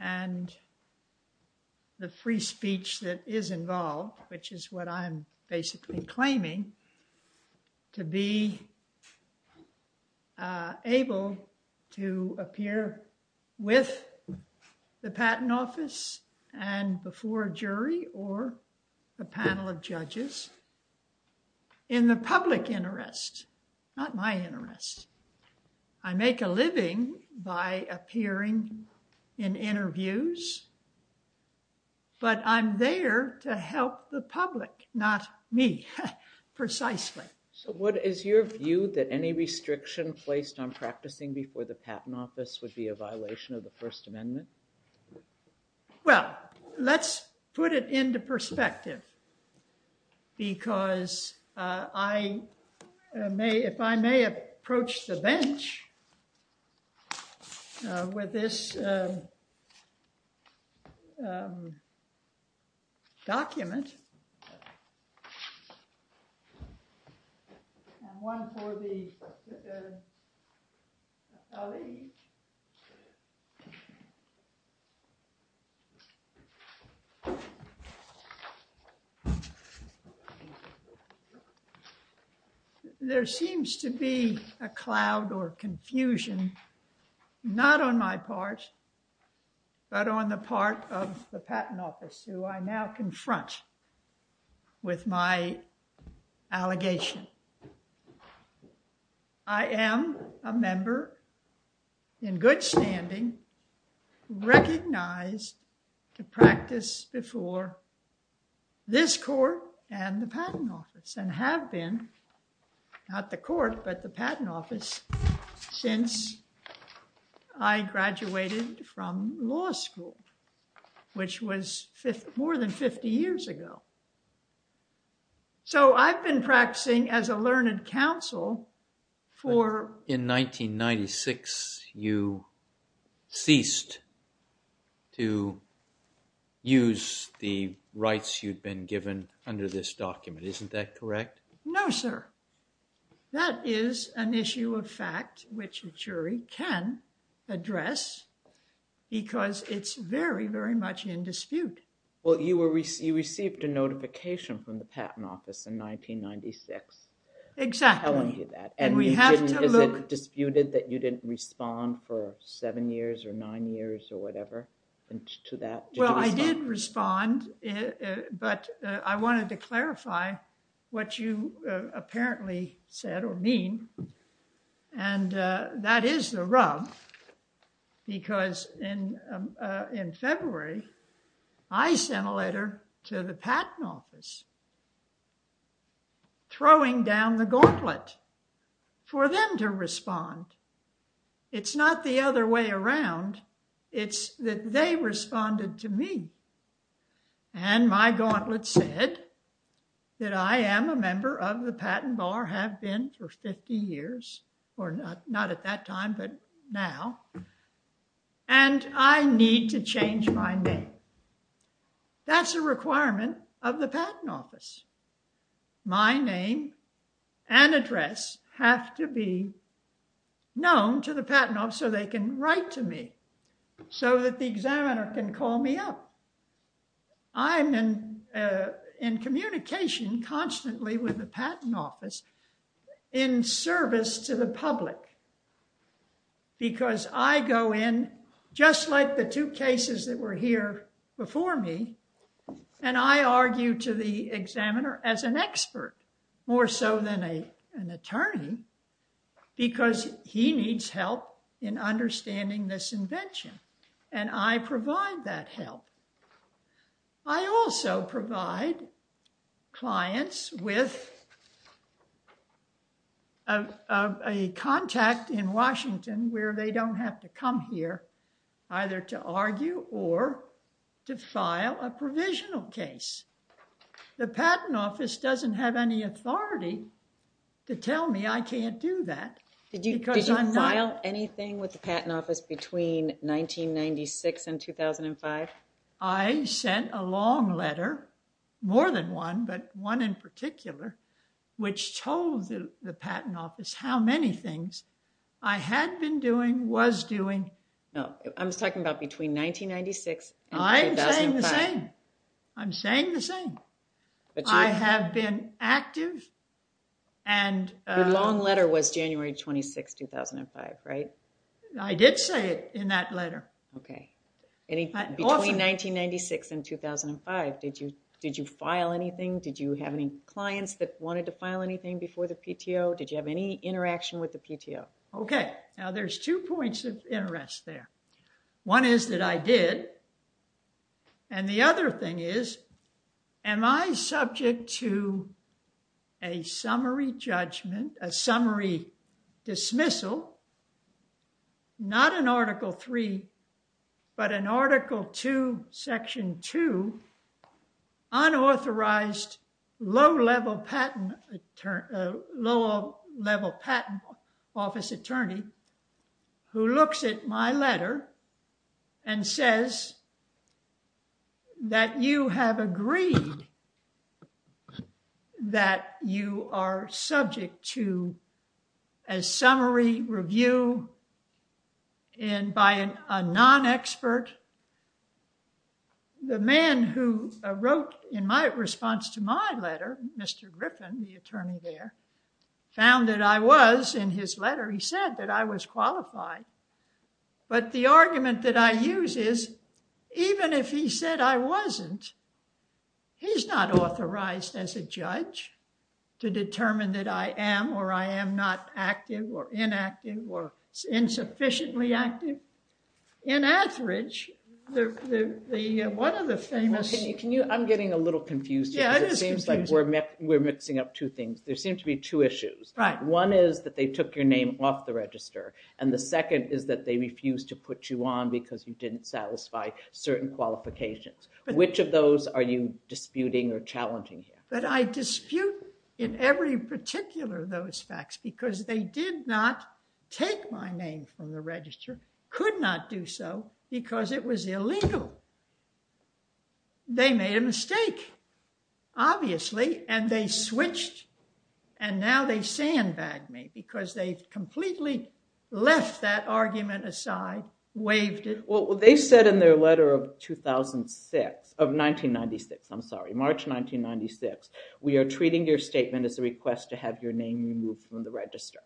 and the free speech that is involved, which is what I'm basically claiming, to be able to appear with the Patent Office and before a jury or a panel of judges in the public interest, not my interest. I make a living by appearing in interviews, but I'm there to help the public, not me, precisely. So what is your view that any restriction placed on practicing before the Patent Office would be a violation of the First Amendment? Well, let's put it into perspective, because I may, if I may approach the bench with this document and one for the public. There seems to be a cloud or confusion, not on my part, but on the part of the Patent Office. I have been recognized to practice before this court and the Patent Office and have been, not the court, but the Patent Office since I graduated from law school, which was more than 50 years ago. So I've been practicing as a learned counsel for... ceased to use the rights you've been given under this document, isn't that correct? No, sir. That is an issue of fact which a jury can address, because it's very, very much in dispute. Well, you received a notification from the Patent Office in 1996. Exactly. And is it disputed that you didn't respond for seven years or nine years or whatever to that? Well, I did respond, but I wanted to clarify what you apparently said or mean, and that is the rub, because in February, I sent a letter to the Patent Office throwing down the gauntlet for them to respond. It's not the other way around. It's that they responded to me, and my gauntlet said that I am a member of the Patent Bar, have been for 50 years, or not at that time, but now, and I need to change my name. That's a requirement of the Patent Office. My name and address have to be known to the Patent Office so they can write to me, so that the examiner can call me up. I'm in communication constantly with the Patent Office in service to the public, because I go in, just like the two cases that were here before me, and I argue to the examiner as an expert, more so than an attorney, because he needs help in understanding this invention, and I provide that help. I also provide clients with a contact in Washington where they don't have to come here, either to argue or to file a provisional case. The Patent Office doesn't have any authority to tell me I can't do that. Did you file anything with the Patent Office between 1996 and 2005? I sent a long letter, more than one, but one in particular, which told the Patent Office how many things I had been doing, was doing. No, I'm talking about between 1996 and 2005. I'm saying the same. I'm saying the same. I have been active. The long letter was January 26, 2005, right? I did say it in that letter. Between 1996 and 2005, did you file anything? Did you have any clients that wanted to file anything before the PTO? Did you have any interaction with the PTO? Okay, now there's two points of interest there. One is that I did, and the other thing is, am I subject to a summary judgment, a summary dismissal, not in Article 3, but in Article 2, Section 2, unauthorized low-level patent office attorney who looks at my letter and says that you have agreed that you are subject to a summary review and by a non-expert. The man who wrote in my response to my letter, Mr. Griffin, the attorney there, found that I was, in his letter, he said that I was qualified. But the argument that I use is, even if he said I wasn't, he's not authorized as a judge to determine that I am or I am not active or inactive or insufficiently active. In Atheridge, one of the famous... I'm getting a little confused here. It seems like we're mixing up two things. There seem to be two issues. One is that they took your name off the register, and the second is that they refused to put you on because you didn't satisfy certain qualifications. Which of those are you disputing or challenging here? But I dispute in every particular of those facts because they did not take my name from the register, could not do so because it was illegal. They made a mistake, obviously, and they switched, and now they sandbag me because they've completely left that argument aside, waived it. Well, they said in their letter of 2006, of 1996, I'm sorry, March 1996, we are treating your statement as a request to have your name removed from the register.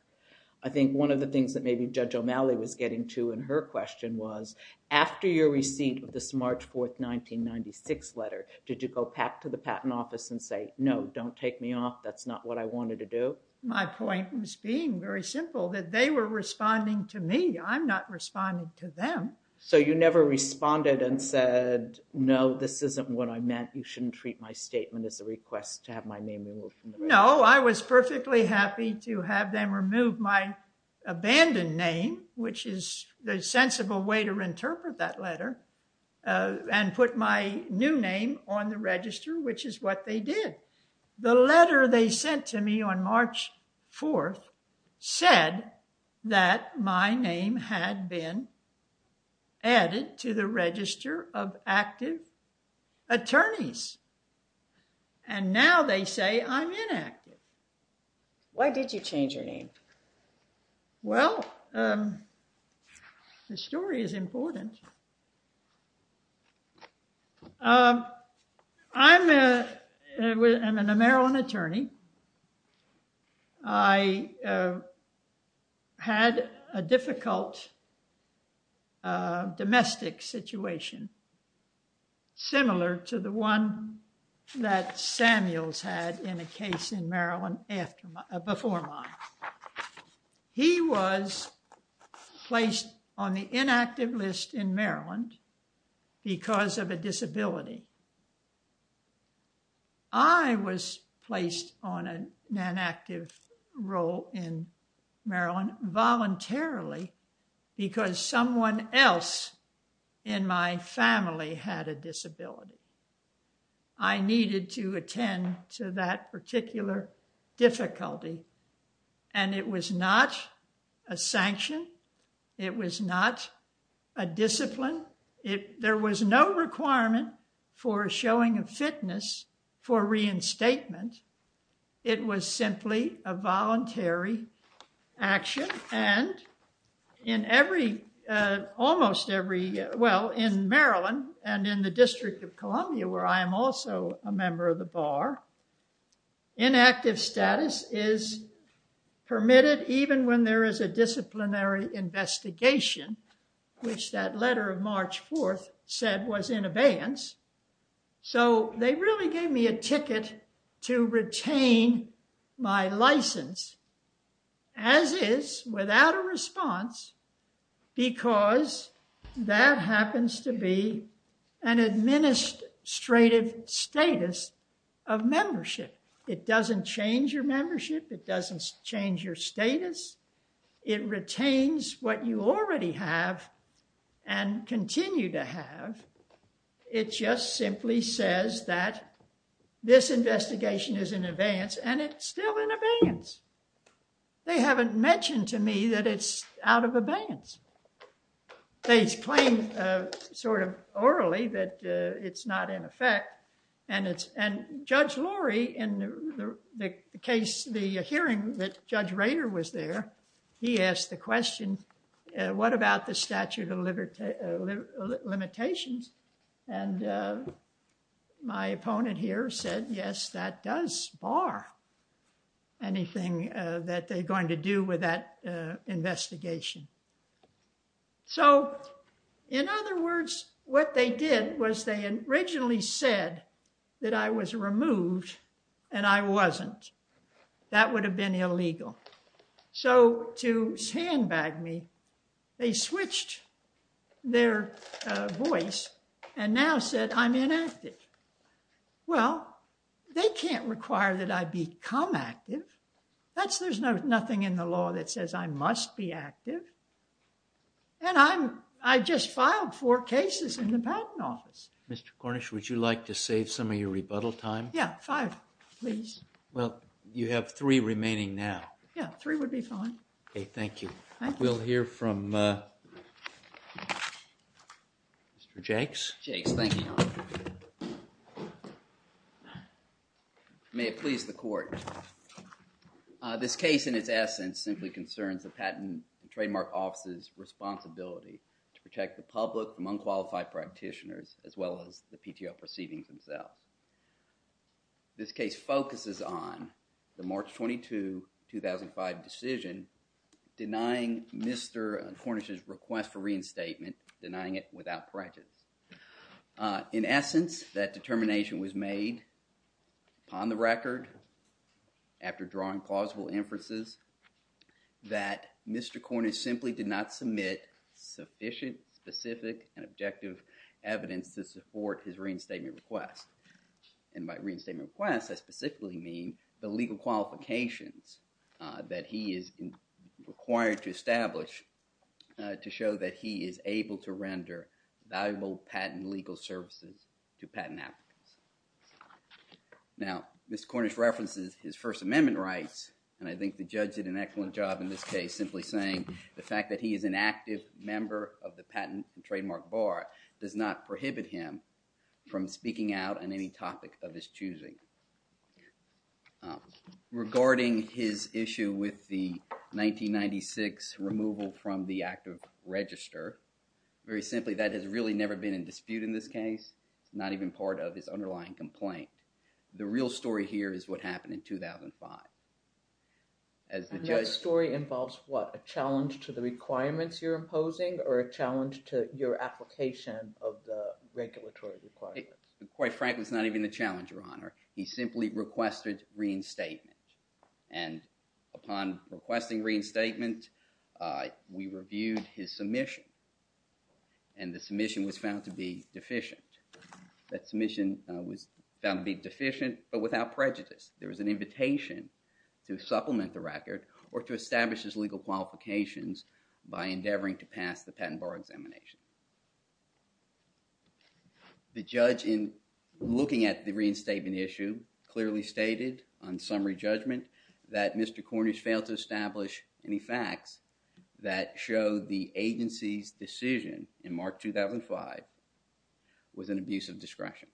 I think one of the things that maybe Judge O'Malley was getting to in her question was, after your receipt of this March 4, 1996 letter, did you go back to the Patent Office and say, no, don't take me off, that's not what I wanted to do? My point was being very simple, that they were responding to me, I'm not responding to them. So, you never responded and said, no, this isn't what I meant, you shouldn't treat my statement as a request to have my name removed? No, I was perfectly happy to have them remove my abandoned name, which is the sensible way to interpret that letter, and put my new name on the register, which is what they did. The letter they sent to me on March 4 said that my name had been added to the register of active attorneys, and now they say I'm inactive. Why did you change your name? Well, the story is important. I'm a, I'm a Maryland attorney. I had a difficult domestic situation, similar to the one that Samuels had in a case in Maryland after, before mine. He was placed on the inactive list in Maryland because of a disability. I was placed on an inactive role in Maryland voluntarily because someone else in my family had a disability. I needed to attend to that particular difficulty, and it was not a sanction. It was not a discipline. It, there was no requirement for showing a fitness for reinstatement. It was simply a voluntary action, and in every, almost every, well, in Maryland and in the District of Columbia, where I am also a member of the bar, inactive status is permitted, even when there is a disciplinary investigation, which that letter of March 4 said was in abeyance. So, they really gave me a ticket to retain my license, as is, without a response, because that happens to be an administrative status of membership. It doesn't change your membership. It doesn't change your status. It retains what you already have and continue to have. It just simply says that this investigation is in abeyance, and it's still in abeyance. They haven't mentioned to me that it's out of abeyance. They claim sort of orally that it's not in effect, and it's, and Judge Lurie, in the case, the hearing that Judge Rader was there, he asked the question, what about the statute of limitations, and my opponent here said, yes, that does bar anything that they're going to do with that investigation. So, in other words, what they did was they originally said that I was removed, and I wasn't. That would have been illegal. So, to sandbag me, they switched their voice and now said I'm inactive. Well, they can't require that I become active. There's nothing in the law that says I must be active, and I just filed four cases in the Patent Office. Mr. Cornish, would you like to save some of your rebuttal time? Yeah, five, please. Well, you have three remaining now. Yeah, three would be fine. Okay, thank you. We'll hear from Mr. Jakes. Jakes, thank you. May it please the Court. This case, in its essence, simply concerns the Patent Trademark Office's responsibility to protect the public from unqualified practitioners, as well as the PTO proceedings themselves. This case focuses on the March 22, 2005 decision denying Mr. Cornish's request for reinstatement, denying it without prejudice. In essence, that determination was made upon the record after drawing plausible inferences that Mr. Cornish simply did not submit sufficient specific and objective evidence to support his reinstatement request. And by reinstatement request, I specifically mean the legal qualifications that he is required to establish to show that he is able to render valuable patent legal services to patent applicants. Now, Mr. Cornish references his First Amendment rights, and I think the judge did an excellent job in this case simply saying the fact that he is an active member of the Patent and Trademark Bar does not prohibit him from speaking out on any topic of his choosing. Regarding his issue with the 1996 removal from the active register, very simply, that has really never been in dispute in this case, not even part of his underlying complaint. The real story here is what happened in 2005. And that story involves what, a challenge to the requirements you're imposing or a challenge to your application of the regulatory requirements? Quite frankly, it's not even the challenge, Your Honor. He simply requested reinstatement, and upon requesting reinstatement, we reviewed his submission, and the submission was found to be deficient but without prejudice. There was an invitation to supplement the record or to establish his legal qualifications by endeavoring to pass the patent bar examination. The judge in looking at the reinstatement issue clearly stated on summary judgment that Mr. Cornish failed to establish any facts that show the agency's decision in March 2005 was an abuse of discretion.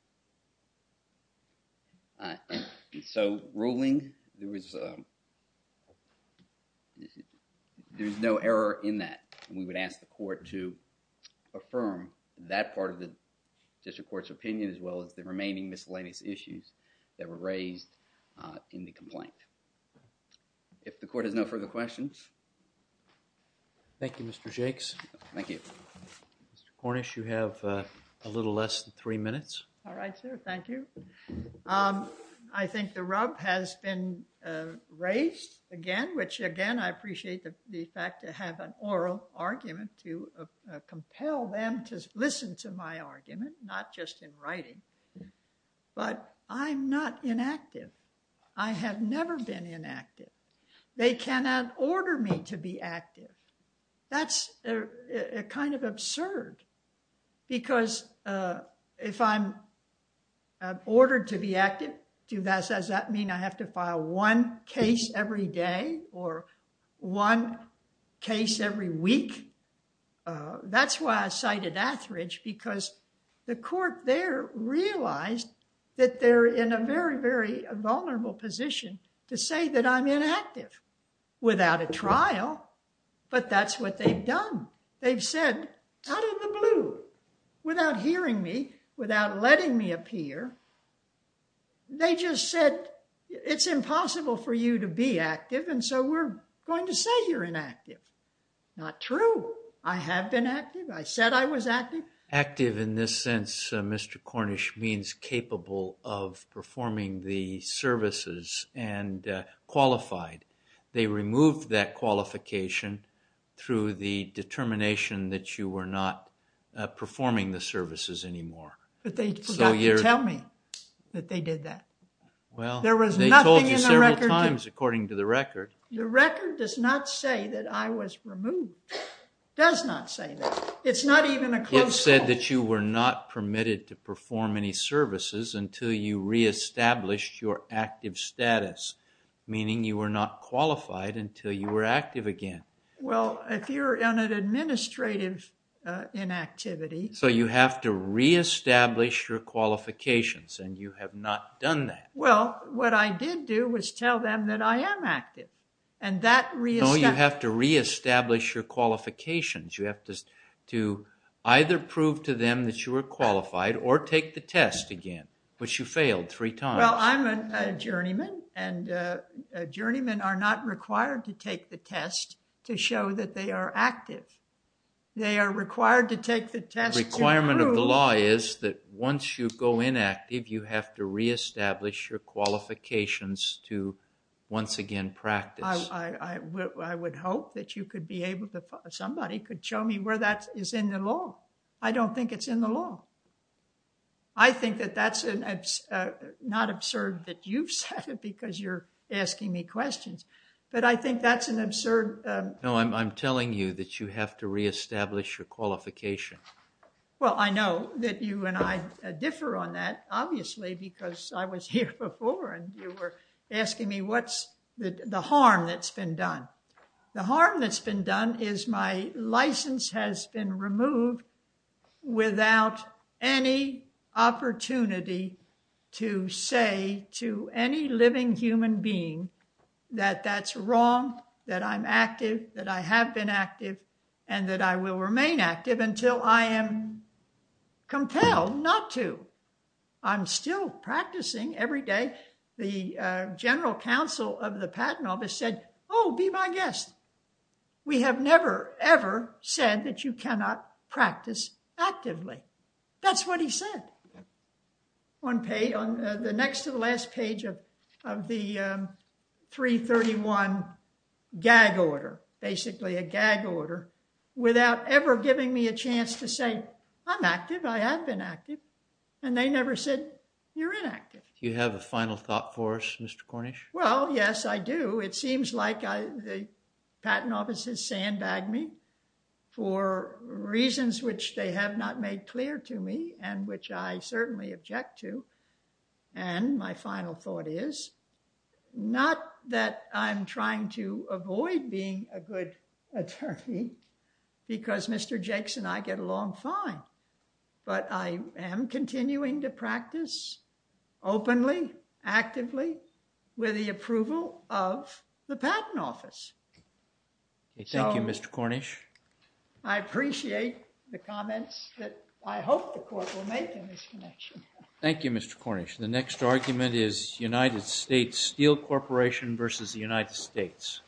So, ruling, there was, there's no error in that. We would ask the court to affirm that part of the district court's opinion as well as the remaining miscellaneous issues that were raised in the complaint. If the court has no further questions. Thank you, Mr. Jakes. Thank you. Mr. Cornish, you have a little less than three minutes. All right, sir. Thank you. I think the rub has been raised again, which again, I appreciate the fact to have an oral argument to compel them to listen to my argument, not just in writing, but I'm not inactive. I have never been active. They cannot order me to be active. That's kind of absurd because if I'm ordered to be active, does that mean I have to file one case every day or one case every week? That's why I cited Atheridge because the court there realized that they're in a very, very vulnerable position to say that I'm inactive without a trial, but that's what they've done. They've said out of the blue, without hearing me, without letting me appear, they just said it's impossible for you to be active and so we're going to say you're inactive. Not true. I have been active. I said I was active. Active in this sense, Mr. Cornish means capable of performing the services and qualified. They removed that qualification through the determination that you were not performing the services anymore. But they forgot to tell me that they did that. Well, they told you several times according to the record. The record does not say that I was removed. It does not say that. It's not even a close call. It said that you were not permitted to perform any services until you re-established your active status, meaning you were not qualified until you were active again. Well, if you're in an administrative inactivity... So you have to re-establish your qualifications and you have not done that. Well, what I did do was tell them that I am active and that re-established... No, you have to re-establish your qualifications. You have to either prove to them that you are qualified or take the test again, which you failed three times. Well, I'm a journeyman and journeymen are not required to take the test to show that they are active. They are required to take the test to prove... The requirement of the law is that once you go inactive, you have to re-establish your qualifications to once again practice. I would hope that you could be I don't think it's in the law. I think that that's not absurd that you've said it because you're asking me questions, but I think that's an absurd... No, I'm telling you that you have to re-establish your qualification. Well, I know that you and I differ on that, obviously, because I was here before and you were asking me what's the harm that's been done. The harm that's been done is my license has been removed without any opportunity to say to any living human being that that's wrong, that I'm active, that I have been active, and that I will remain active until I am compelled not to. I'm still practicing every day. The general counsel of the patent office said, oh, be my guest. We have never ever said that you cannot practice actively. That's what he said on the next to the last page of the 331 gag order, basically a gag order, without ever giving me a chance to say I'm active, I have been active, and they never said you're inactive. Do you have a final thought for us, Mr. Cornish? Well, yes, I do. It seems like the patent office has sandbagged me for reasons which they have not made clear to me and which I certainly object to, and my final thought is not that I'm trying to avoid being a good attorney because Mr. Cornish, I'm continuing to practice openly, actively with the approval of the patent office. Thank you, Mr. Cornish. I appreciate the comments that I hope the court will make in this connection. Thank you, Mr. Cornish. The next argument is United States Steel Corporation versus the United States.